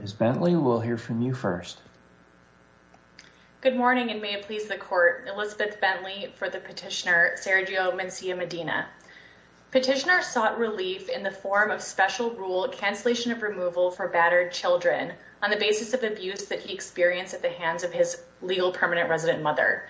Ms. Bentley, we'll hear from you first. Good morning and may it please the court. Elizabeth Bentley for the petitioner Sergio Mencia-Medina. Petitioner sought relief in the form of special rule cancellation of removal for battered children on the basis of abuse that he experienced at the hands of his legal permanent resident mother.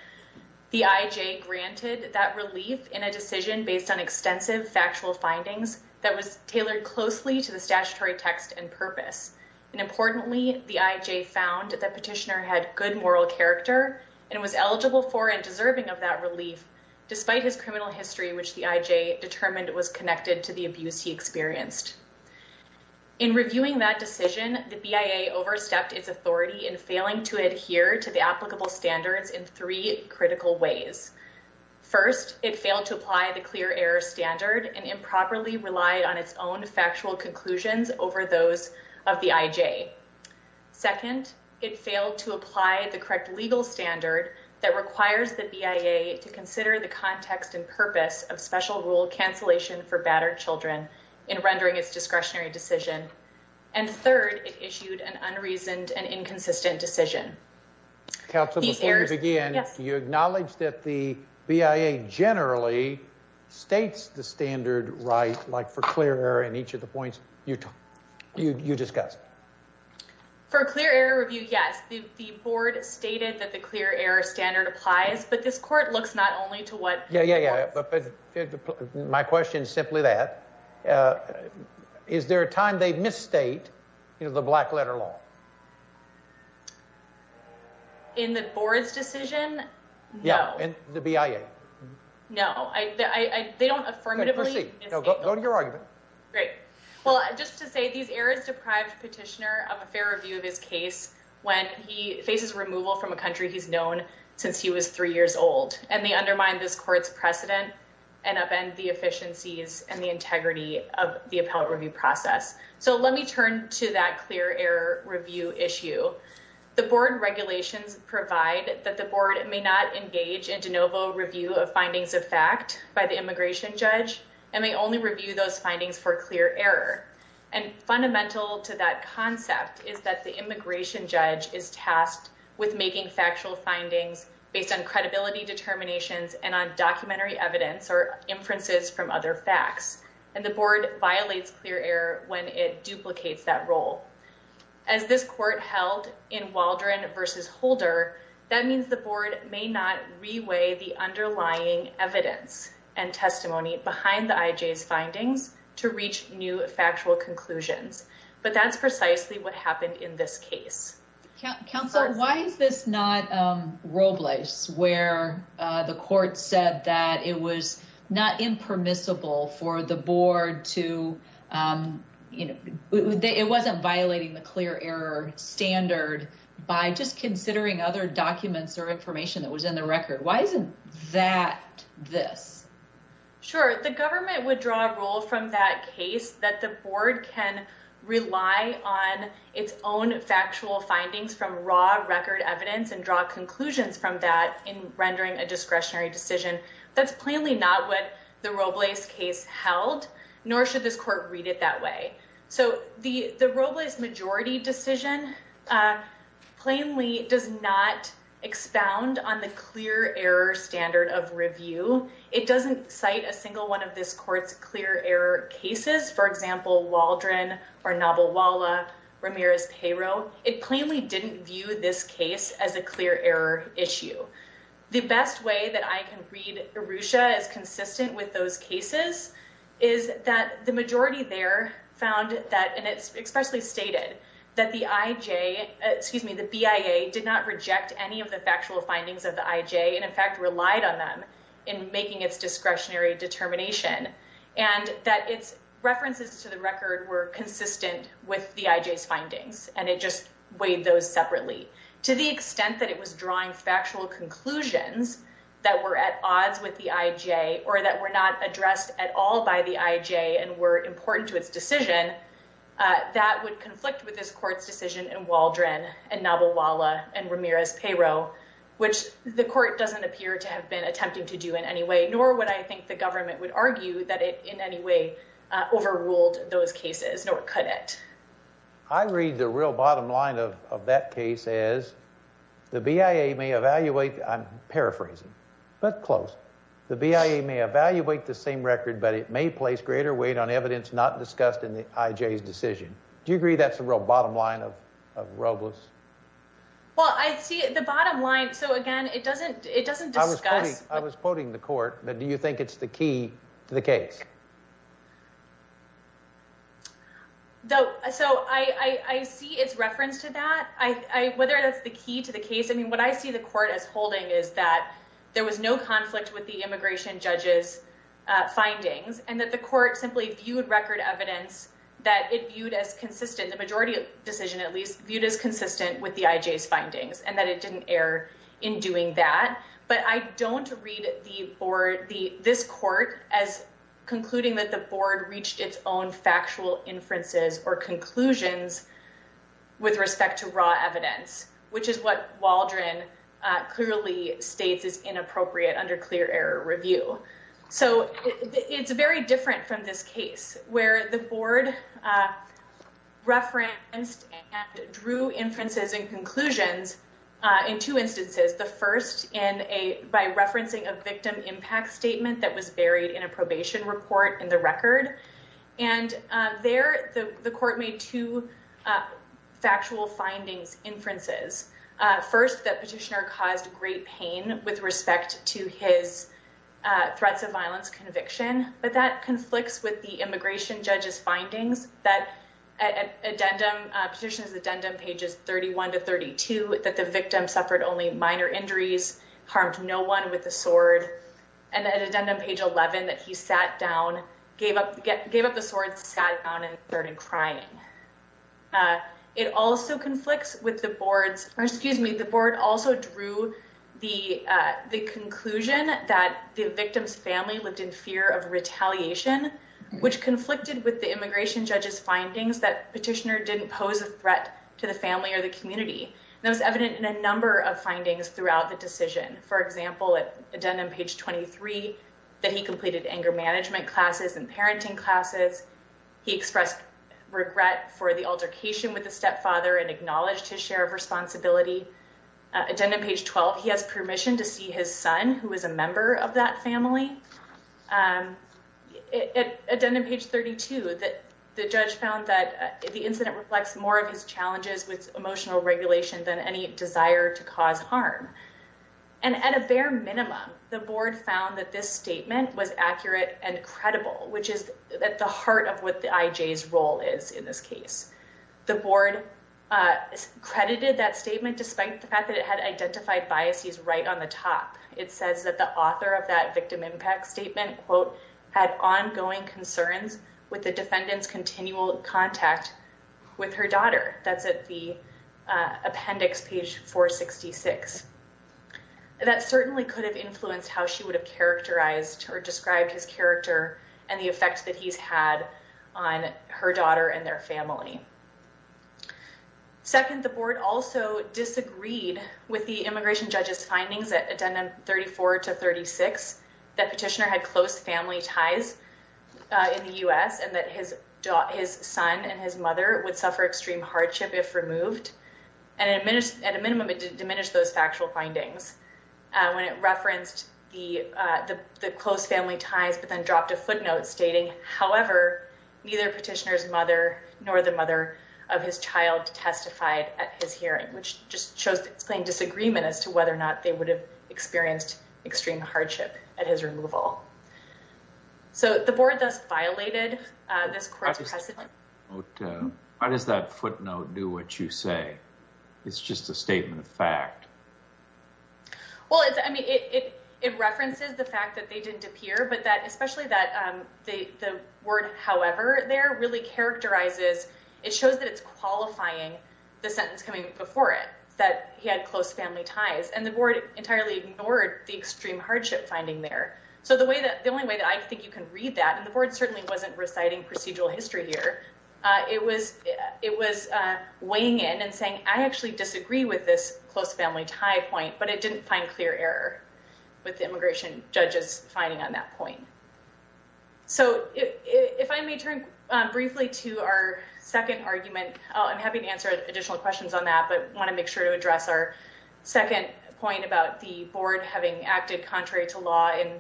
The IJ granted that relief in a decision based on extensive factual findings that was tailored closely to the statutory text and purpose. And importantly, the IJ found that petitioner had good moral character and was eligible for and deserving of that relief despite his criminal history, which the IJ determined was connected to the abuse he experienced. In reviewing that decision, the BIA overstepped its authority in failing to adhere to the applicable standards in three critical ways. First, it failed to apply the clear error standard and properly relied on its own factual conclusions over those of the IJ. Second, it failed to apply the correct legal standard that requires the BIA to consider the context and purpose of special rule cancellation for battered children in rendering its discretionary decision. And third, it issued an unreasoned and inconsistent decision. Counsel, before we begin, you acknowledged that the BIA generally states the standard right like for clear error in each of the points you discussed. For a clear error review, yes, the board stated that the clear error standard applies, but this court looks not only to what... Yeah, yeah, yeah, but my question is simply that. Is there a time they misstate, you know, the black letter law? In the board's decision? No. Yeah, in the BIA. No, they don't affirmatively misstate. Go to your argument. Great. Well, just to say these errors deprive the petitioner of a fair review of his case when he faces removal from a country he's known since he was three years old, and they undermine this court's precedent and upend the efficiencies and the integrity of the appellate issue. The board regulations provide that the board may not engage in de novo review of findings of fact by the immigration judge and may only review those findings for clear error. And fundamental to that concept is that the immigration judge is tasked with making factual findings based on credibility determinations and on documentary evidence or inferences from other facts. And the as this court held in Waldron versus Holder, that means the board may not reweigh the underlying evidence and testimony behind the IJ's findings to reach new factual conclusions. But that's precisely what happened in this case. Counselor, why is this not Robles where the court said that it was not impermissible for the board to, you know, it wasn't violating the clear error standard by just considering other documents or information that was in the record? Why isn't that this? Sure. The government would draw a rule from that case that the board can rely on its own factual findings from raw record evidence and draw conclusions from that in rendering a not what the Robles case held, nor should this court read it that way. So the Robles majority decision plainly does not expound on the clear error standard of review. It doesn't cite a single one of this court's clear error cases, for example, Waldron or novel Walla Ramirez payroll. It plainly didn't view this case as a clear error issue. The best way that I can read Arusha as consistent with those cases is that the majority there found that, and it's expressly stated that the IJ, excuse me, the BIA did not reject any of the factual findings of the IJ and in fact relied on them in making its discretionary determination and that its weighed those separately to the extent that it was drawing factual conclusions that were at odds with the IJ or that were not addressed at all by the IJ and were important to its decision that would conflict with this court's decision and Waldron and novel Walla and Ramirez payroll, which the court doesn't appear to have been attempting to do in any way, nor would I think the government would argue that it in any way overruled those cases, nor could it. I read the real bottom line of that case as the BIA may evaluate, I'm paraphrasing, but close. The BIA may evaluate the same record, but it may place greater weight on evidence not discussed in the IJ's decision. Do you agree that's the real bottom line of Robles? Well, I see the bottom line. So again, it doesn't discuss. I was quoting the court, but do you think it's the key to the case? No. So I see its reference to that. Whether that's the key to the case. I mean, what I see the court as holding is that there was no conflict with the immigration judge's findings and that the court simply viewed record evidence that it viewed as consistent, the majority decision, at least viewed as consistent with the IJ's findings and that it didn't err in doing that. But I don't read the board, this court, as concluding that the board reached its own factual inferences or conclusions with respect to raw evidence, which is what Waldron clearly states is inappropriate under clear error review. So it's very different from this case where the board referenced and conclusions in two instances, the first by referencing a victim impact statement that was buried in a probation report in the record. And there the court made two factual findings inferences. First, that petitioner caused great pain with respect to his threats of violence conviction, but that conflicts with the immigration judge's findings that petition's addendum pages 31 to 32, that the victim suffered only minor injuries, harmed no one with a sword, and that addendum page 11 that he sat down, gave up the sword, sat down and started crying. It also conflicts with the board's, or excuse me, the board also drew the conclusion that the victim's family lived in fear of retaliation, which conflicted with the immigration judge's family or the community. And that was evident in a number of findings throughout the decision. For example, at addendum page 23, that he completed anger management classes and parenting classes. He expressed regret for the altercation with the stepfather and acknowledged his share of responsibility. Addendum page 12, he has permission to see his son who is a member of that family. At addendum page 32, that the judge found that the incident reflects more of his challenges with emotional regulation than any desire to cause harm. And at a bare minimum, the board found that this statement was accurate and credible, which is at the heart of what the IJ's role is in this case. The board credited that statement despite the fact that it had identified biases right on the top. It says that the author of that victim impact statement, quote, had ongoing concerns with the defendant's continual contact with her daughter. That's at the appendix, page 466. That certainly could have influenced how she would have characterized or described his character and the effects that he's had on her daughter and their family. Second, the board also disagreed with the immigration judge's findings at addendum 34 to 36 that Petitioner had close family ties in the U.S. and that his son and his mother would suffer extreme hardship if removed. And at a minimum, it diminished those factual findings when it referenced the close family ties but then dropped a footnote stating, however, neither Petitioner's nor the mother of his child testified at his hearing, which just shows plain disagreement as to whether or not they would have experienced extreme hardship at his removal. So the board thus violated this court's precedent. Why does that footnote do what you say? It's just a statement of fact. Well, I mean, it references the fact that they didn't appear, especially that the word, however, there really characterizes, it shows that it's qualifying the sentence coming before it, that he had close family ties. And the board entirely ignored the extreme hardship finding there. So the only way that I think you can read that, and the board certainly wasn't reciting procedural history here, it was weighing in and saying, I actually disagree with this close family tie point, but it didn't find clear error with the immigration judge's point. So if I may turn briefly to our second argument, I'm happy to answer additional questions on that, but I want to make sure to address our second point about the board having acted contrary to law and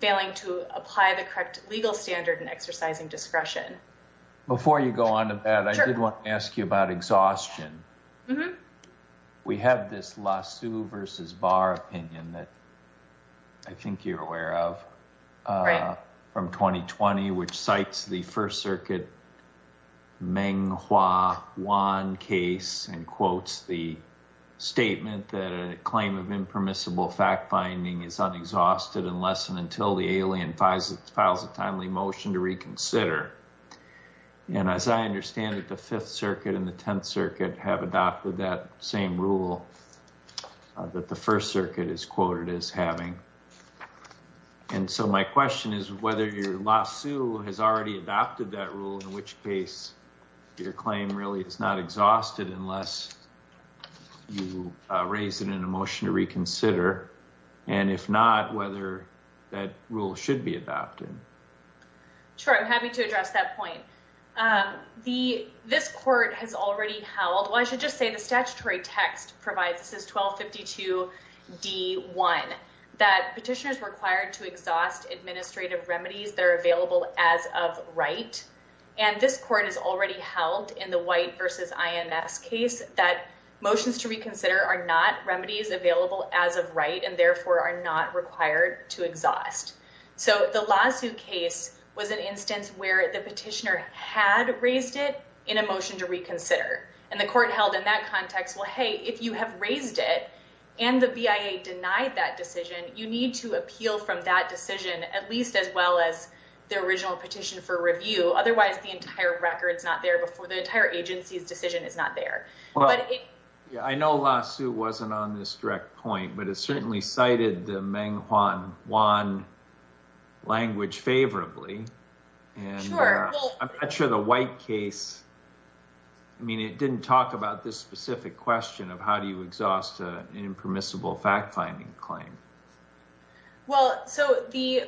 failing to apply the correct legal standard and exercising discretion. Before you go on to that, I did want to ask you about exhaustion. Mm-hmm. We have this lawsuit versus bar opinion that I think you're aware of from 2020, which cites the first circuit Menghua Wan case and quotes the statement that a claim of impermissible fact-finding is unexhausted unless and until the alien files a timely motion to reconsider. And as I understand it, the fifth circuit and the 10th circuit have adopted that same rule that the first circuit is quoted as having. And so my question is whether your lawsuit has already adopted that rule, in which case your claim really is not exhausted unless you raise it in a motion to reconsider, and if not, whether that rule should be adopted. Sure. I'm happy to address that point. This court has already held, well, I should just say the statutory text provides, this is 1252D1, that petitioners required to exhaust administrative remedies that are available as of right, and this court has already held in the White versus IMS case that motions to reconsider are not remedies available as of right and therefore are not required to exhaust. So the lawsuit case was an instance where the petitioner had raised it in a motion to reconsider, and the court held in that context, well, hey, if you have raised it and the BIA denied that decision, you need to appeal from that decision at least as well as the original petition for review. Otherwise, the entire record's not there before the entire agency's decision is not there. I know lawsuit wasn't on this direct point, but it certainly cited the Menghuan language favorably, and I'm not sure the White case, I mean, it didn't talk about this specific question of how do you exhaust an impermissible fact-finding claim. Well, so the,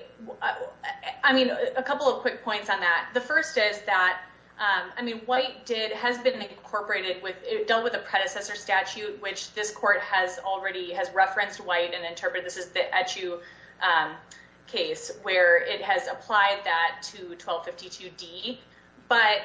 I mean, a couple of quick points on that. The first is that, I mean, White did, has been incorporated with, dealt with a predecessor statute, which this court has referenced White and interpreted, this is the Echu case, where it has applied that to 1252D. But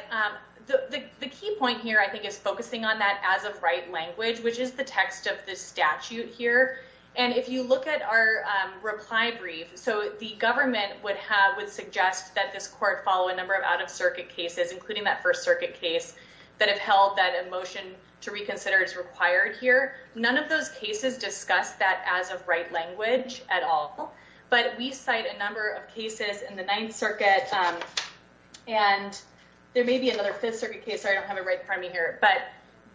the key point here, I think, is focusing on that as of right language, which is the text of the statute here. And if you look at our reply brief, so the government would have, would suggest that this court follow a number of out-of-circuit cases, including that First Circuit case, that have held that a motion to reconsider is required here. None of those cases discuss that as of right language at all. But we cite a number of cases in the Ninth Circuit, and there may be another Fifth Circuit case, sorry, I don't have it right in front of me here, but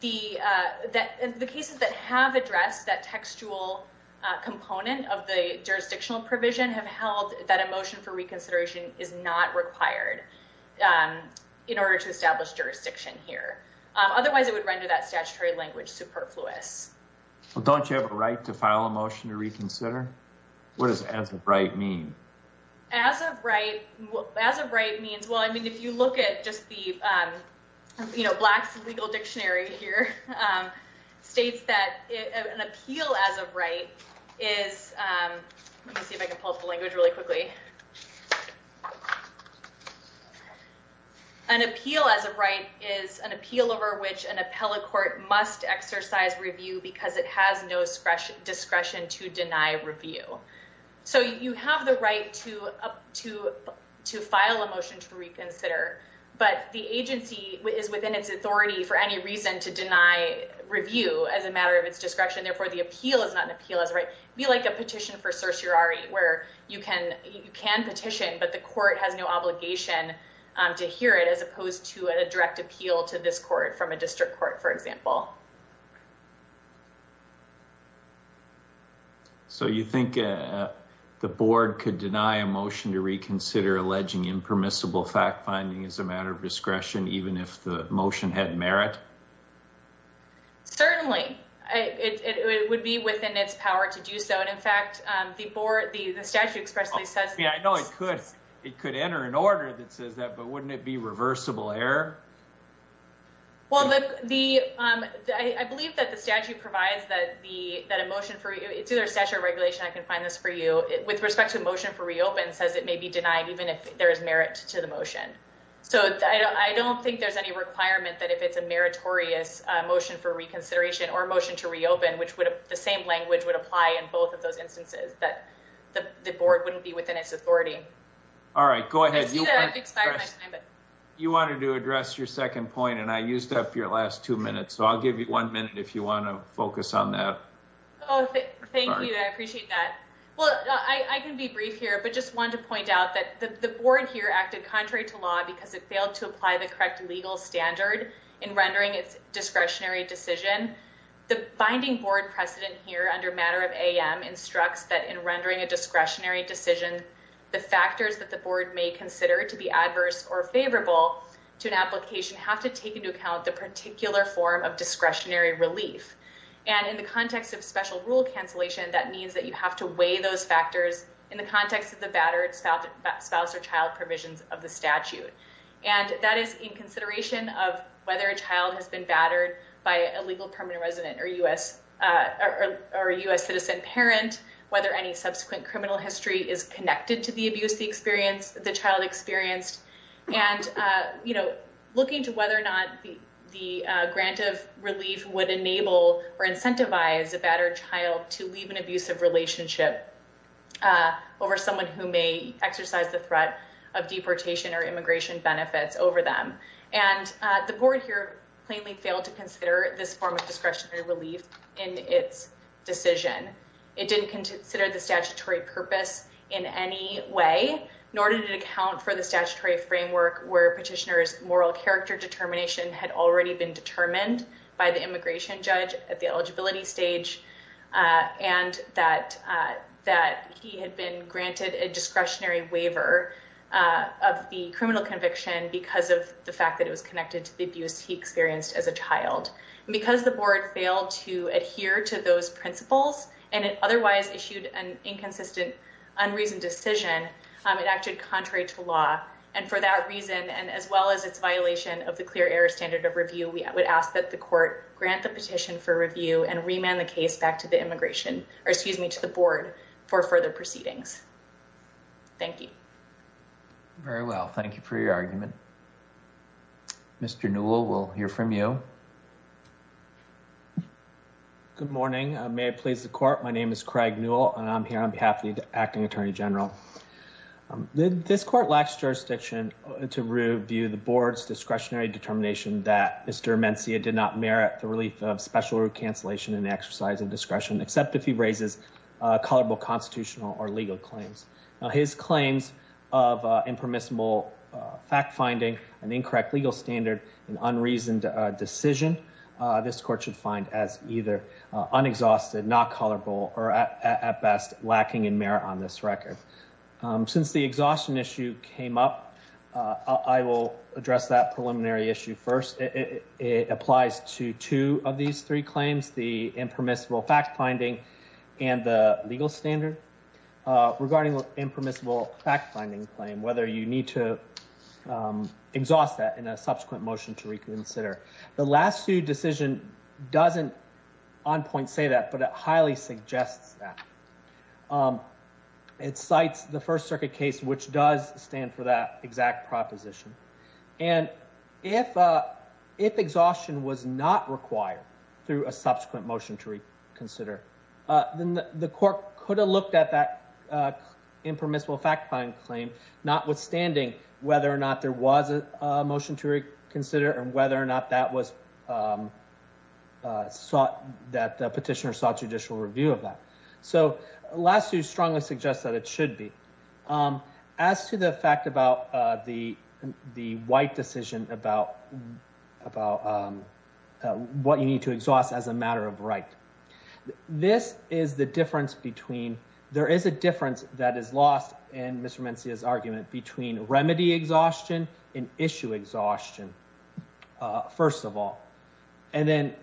the cases that have addressed that textual component of the jurisdictional provision have required in order to establish jurisdiction here. Otherwise it would render that statutory language superfluous. Well, don't you have a right to file a motion to reconsider? What does as of right mean? As of right, as of right means, well, I mean, if you look at just the, you know, Black's legal dictionary here, states that an appeal as of right is, let me see if I can pull up the language really quickly. An appeal as of right is an appeal over which an appellate court must exercise review because it has no discretion to deny review. So you have the right to file a motion to reconsider, but the agency is within its authority for any reason to deny review as a matter of its discretion, therefore the appeal is not an appeal as of right. Be like a petition for certiorari where you can petition, but the court has no obligation to hear it as opposed to a direct appeal to this court from a district court, for example. So you think the board could deny a motion to reconsider alleging impermissible fact finding as a matter of discretion, even if the motion had merit? Certainly, it would be within its power to do so, and in fact, the board, the statute expressly says. Yeah, I know it could, it could enter an order that says that, but wouldn't it be reversible error? Well, the, I believe that the statute provides that the, that a motion for you, it's either statute or regulation, I can find this for you. With respect to a motion for reopen, says it may be denied even if there is merit to the motion. So I don't think there's any requirement that if it's a meritorious motion for reconsideration or motion to reopen, which would have the same language would apply in both of those instances that the board wouldn't be within its authority. All right, go ahead. You wanted to address your second point, and I used up your last two minutes, so I'll give you one minute if you want to focus on that. Oh, thank you. I appreciate that. Well, I can be brief here, but just wanted to point out that the board here acted contrary to law because it failed to apply the correct legal standard in rendering its discretionary decision. The binding board precedent here under matter of AM instructs that in rendering a discretionary decision, the factors that the board may consider to be adverse or favorable to an application have to take into account the particular form of discretionary relief. And in the context of special rule cancellation, that means that you of the statute. And that is in consideration of whether a child has been battered by a legal permanent resident or a U.S. citizen parent, whether any subsequent criminal history is connected to the abuse the child experienced, and looking to whether or not the grant of relief would enable or incentivize a battered child to leave an abusive relationship over someone who may exercise the threat of deportation or immigration benefits over them. And the board here plainly failed to consider this form of discretionary relief in its decision. It didn't consider the statutory purpose in any way, nor did it account for the statutory framework where petitioner's moral character determination had already been determined by the immigration judge at the waiver of the criminal conviction because of the fact that it was connected to the abuse he experienced as a child. And because the board failed to adhere to those principles, and it otherwise issued an inconsistent, unreasoned decision, it acted contrary to law. And for that reason, and as well as its violation of the clear error standard of review, we would ask that the court grant the petition for review and remand the case back to the immigration, or excuse me, to the board for further proceedings. Thank you. Very well. Thank you for your argument. Mr. Newell, we'll hear from you. Good morning. May it please the court. My name is Craig Newell, and I'm here on behalf of the acting attorney general. This court lacks jurisdiction to review the board's discretionary determination that Mr. Mencia did not merit the relief of special root cancellation and exercise discretion, except if he raises colorable constitutional or legal claims. Now, his claims of impermissible fact-finding, an incorrect legal standard, and unreasoned decision, this court should find as either unexhausted, not colorable, or at best, lacking in merit on this record. Since the exhaustion issue came up, I will address that preliminary issue first. It applies to two of the claims, the impermissible fact-finding and the legal standard, regarding the impermissible fact-finding claim, whether you need to exhaust that in a subsequent motion to reconsider. The last sued decision doesn't on point say that, but it highly suggests that. It cites the First Circuit case, which does stand for that exact proposition. And if exhaustion was not required through a subsequent motion to reconsider, then the court could have looked at that impermissible fact-finding claim, notwithstanding whether or not there was a motion to reconsider, and whether or not that was sought, that the petitioner sought judicial review of that. So, last sued strongly suggests that it should be. As to the fact about the white decision about what you need to exhaust as a matter of right. This is the difference between, there is a difference that is lost in Mr. Mencia's argument between remedy exhaustion and issue exhaustion, first of all. And then,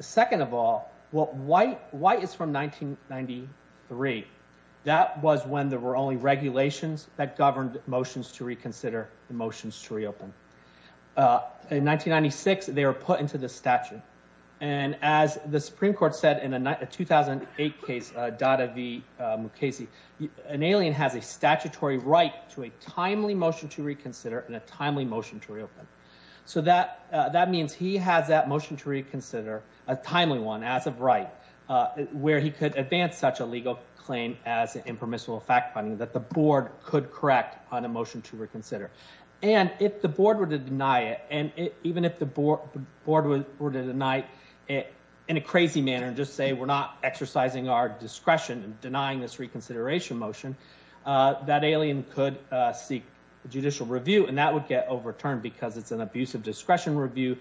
second of all, what white is from 1993, that was when there were only regulations that governed motions to reconsider and motions to reopen. In 1996, they were put into the statute. And as the Supreme Court said in a 2008 case, Dada v. Mukasey, an alien has a statutory right to a timely motion to reconsider and a timely motion to reopen. So, that means he has that motion to reconsider, a timely one, as of right, where he could advance such a legal claim as impermissible fact-finding, that the board could correct on a motion to reconsider. And if the board were to deny it, and even if the board were to deny it in a crazy manner and just say, we're not exercising our discretion in denying this reconsideration motion, that alien could seek a judicial review. And that would get overturned because it's an abuse of discretion review,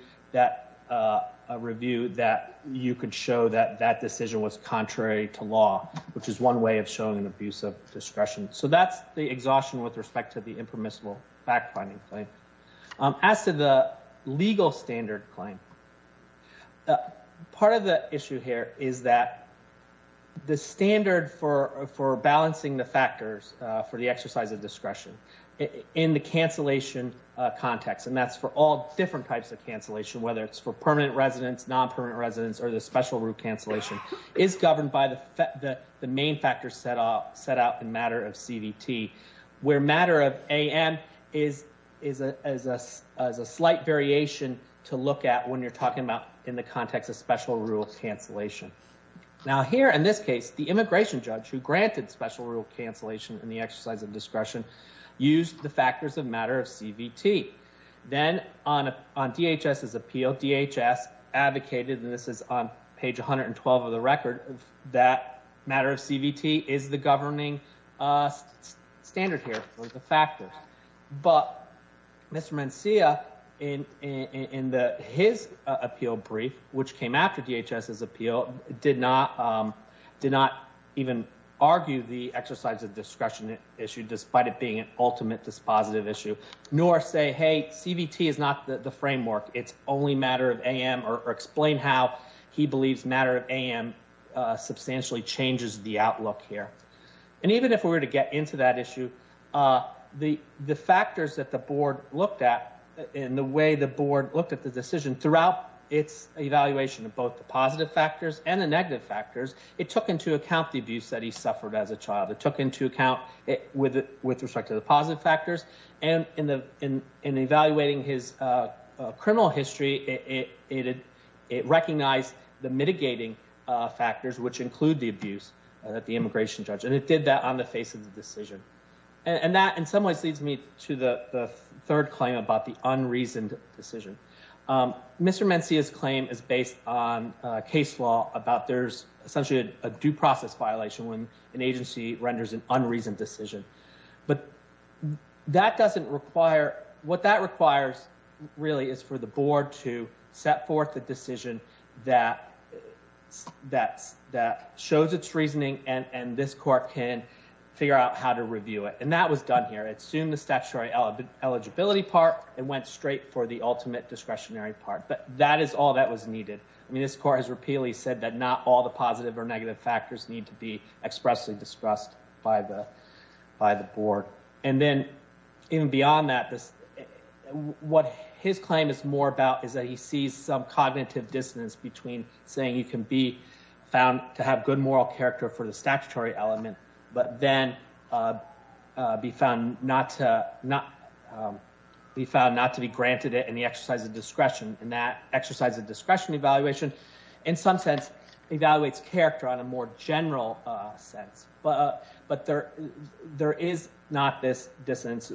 a review that you could show that decision was contrary to law, which is one way of showing an abuse of discretion. So, that's the exhaustion with respect to the impermissible fact-finding claim. As to the legal standard claim, part of the issue here is that the standard for balancing the factors for the exercise of discretion in the cancellation context, and that's for all different types of cancellation, whether it's for permanent residents, non-permanent residents, or the special rule cancellation, is governed by the main factors set out in matter of CVT, where matter of AM is a slight variation to look at when you're talking about in the context of special rule cancellation. Now, here in this case, the immigration judge who granted special rule cancellation in the exercise of discretion used the factors of matter of CVT. Then on DHS's appeal, DHS advocated, and this is on page 112 of the record, that matter of CVT is the governing standard here for the factors. But Mr. Mencia, in his appeal brief, which came after DHS's appeal, did not even argue the exercise of discretion issue, despite it being an ultimate dispositive issue, nor say, hey, CVT is not the framework. It's only matter of AM, or explain how he believes matter of AM substantially changes the outlook here. And even if we were to get into that issue, the factors that the board looked at, and the way the board looked at the decision throughout its evaluation of both the positive factors and the negative factors, it took into account the abuse that he suffered as a child. It took into account with respect to the positive factors, and in evaluating his criminal history, it recognized the mitigating factors, which include the abuse at the immigration judge. And it did that on the face of the decision. And that, in some ways, leads me to the third claim about the unreasoned decision. Mr. Mencia's claim is based on case law about there's essentially a due process violation when an agency renders an appeal. What that requires, really, is for the board to set forth a decision that shows its reasoning, and this court can figure out how to review it. And that was done here. It assumed the statutory eligibility part, and went straight for the ultimate discretionary part. But that is all that was needed. I mean, this court has repeatedly said that not all the positive or negative factors need to be expressly discussed by the board. And then, even beyond that, what his claim is more about is that he sees some cognitive dissonance between saying he can be found to have good moral character for the statutory element, but then be found not to be granted it in the exercise of discretion. And that exercise of discretion evaluation, in some sense, evaluates character on a more general sense. But there is not this dissonance.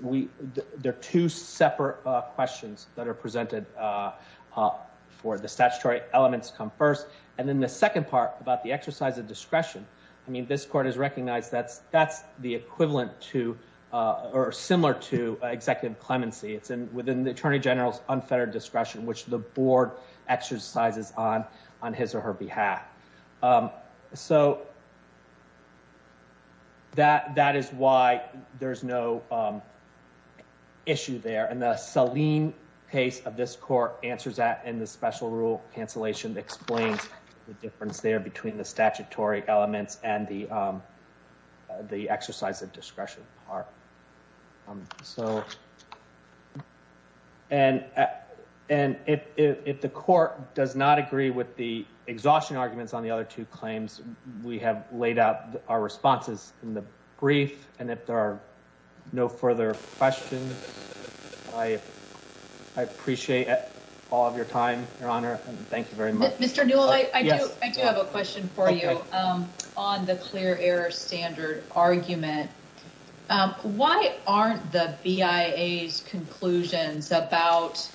They're two separate questions that are presented for the statutory elements come first. And then the second part about the exercise of discretion, I mean, this court has recognized that's the equivalent to, or similar to, executive clemency. It's within the attorney general's unfettered discretion, which the board exercises on his or her behalf. So that is why there's no issue there. And the Saleem case of this court answers that in the special rule cancellation explains the difference there between the statutory elements and the exercise of discretion part. So, and if the court does not agree with the exhaustion arguments on the other two claims, we have laid out our responses in the brief. And if there are no further questions, I appreciate all of your time, Your Honor. Thank you very much. Mr. Newell, I do have a question for you on the clear error standard argument. Um, why aren't the BIA's conclusions about,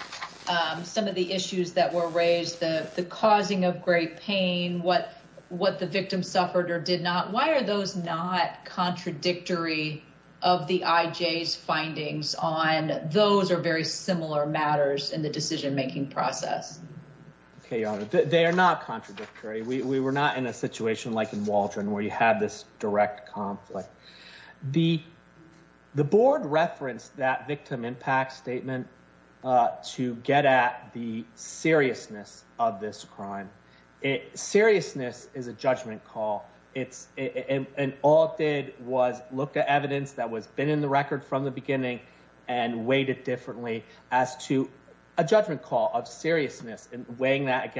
um, some of the issues that were raised, the, the causing of great pain, what, what the victim suffered or did not? Why are those not contradictory of the IJ's findings on those are very similar matters in the decision-making process? Okay, Your Honor, they are not contradictory. We, we were not in a situation like in Waldron where you have this direct conflict. The, the board referenced that victim impact statement, uh, to get at the seriousness of this crime. Seriousness is a judgment call. It's, and all it did was look at evidence that was been in the record from the beginning and weighed it differently as to a judgment call of seriousness and weighing that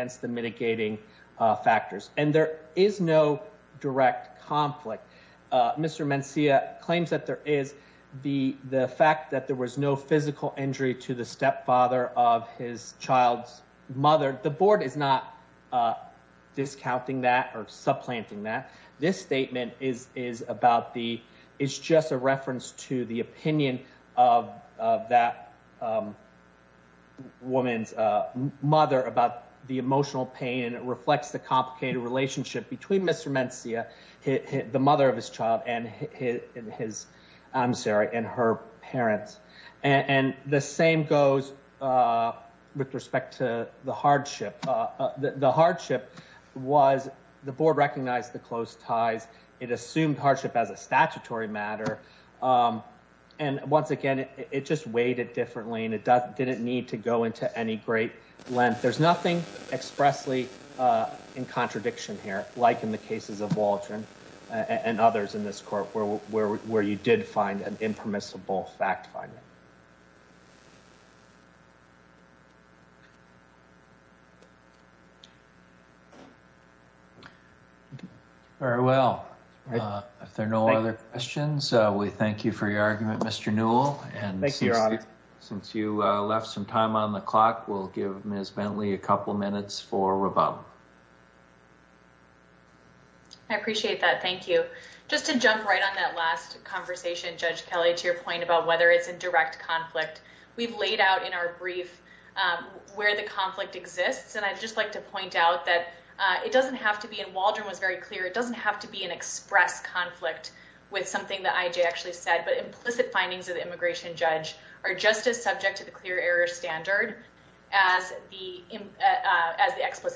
direct conflict. Uh, Mr. Mencia claims that there is the, the fact that there was no physical injury to the stepfather of his child's mother. The board is not, uh, discounting that or supplanting that this statement is, is about the, it's just a reference to the opinion of, of that, um, woman's, uh, mother about the emotional pain. And it reflects the complicated relationship between Mr. Mencia, the mother of his child and his, I'm sorry, and her parents. And the same goes, uh, with respect to the hardship. Uh, the hardship was the board recognized the close ties. It assumed hardship as a statutory matter. Um, and once again, it, it just weighed it differently and it doesn't, didn't need to go into any great length. There's nothing expressly, uh, in contradiction here, like in the cases of Waldron and others in this court where, where, where you did find an impermissible fact finding. Very well. Uh, if there are no other questions, uh, we thank you for your argument, Mr. Newell. And since you, uh, left some time on the clock, we'll give Ms. Bentley a couple of minutes for Bob. I appreciate that. Thank you. Just to jump right on that last conversation, Judge Kelly, to your point about whether it's a direct conflict we've laid out in our brief, um, where the conflict exists. And I'd just like to point out that, uh, it doesn't have to be, and Waldron was very clear. It doesn't have to be an express conflict with something that IJ actually said, but implicit findings of the immigration judge are just as subject to the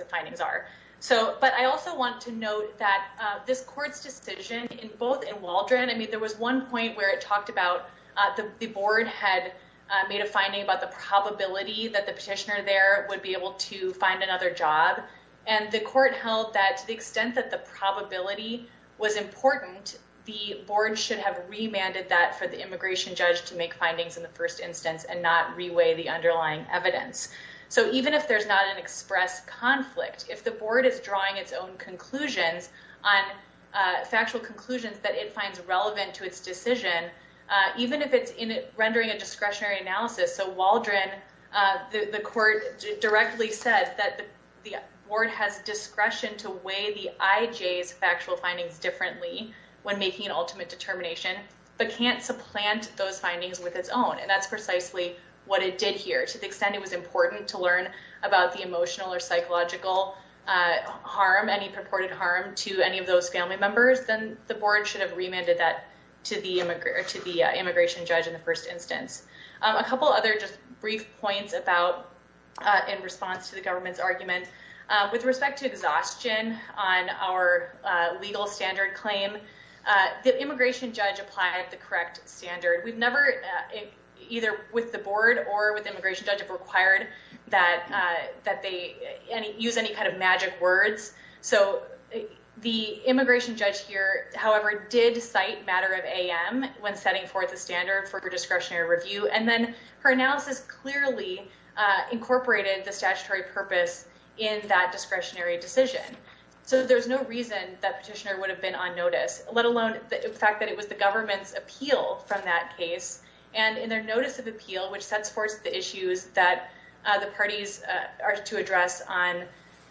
findings are. So, but I also want to note that, uh, this court's decision in both in Waldron, I mean, there was one point where it talked about, uh, the, the board had, uh, made a finding about the probability that the petitioner there would be able to find another job. And the court held that to the extent that the probability was important, the board should have remanded that for the immigration judge to make findings in the first instance and not reweigh the underlying evidence. So even if there's not an express conflict, if the board is drawing its own conclusions on, uh, factual conclusions that it finds relevant to its decision, uh, even if it's rendering a discretionary analysis. So Waldron, uh, the, the court directly said that the board has discretion to weigh the IJ's factual findings differently when making an ultimate determination, but can't supplant those findings with its own. And that's precisely what it did here to the extent it was important to learn about the emotional or psychological, uh, harm, any purported harm to any of those family members, then the board should have remanded that to the immigrant or to the immigration judge in the first instance. Um, a couple other just brief points about, uh, in response to the government's argument, uh, with respect to exhaustion on our, uh, legal standard claim, uh, the immigration judge applied the correct standard. We've never, uh, either with the board or with immigration judge have required that, uh, that they use any kind of magic words. So the immigration judge here, however, did cite matter of AM when setting forth a standard for her discretionary review. And then her analysis clearly, uh, incorporated the statutory purpose in that discretionary decision. So there's no reason that petitioner would have been on notice, let alone the fact that it was the government's appeal from that case. And in their notice of which sets forth the issues that, uh, the parties, uh, are to address on,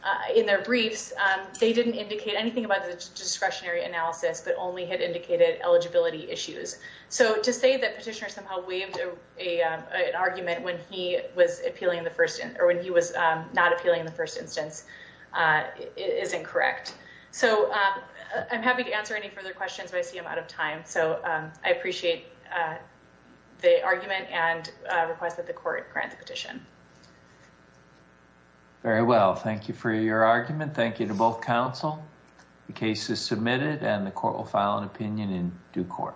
uh, in their briefs, um, they didn't indicate anything about the discretionary analysis, but only had indicated eligibility issues. So to say that petitioner somehow waived a, um, an argument when he was appealing in the first or when he was, um, not appealing in the first instance, uh, is incorrect. So, um, I'm happy to answer any further questions, but I see I'm out of time. So, um, I appreciate, uh, the argument and, uh, request that the court grant the petition. Very well. Thank you for your argument. Thank you to both counsel. The case is submitted and the court will file an opinion in due court.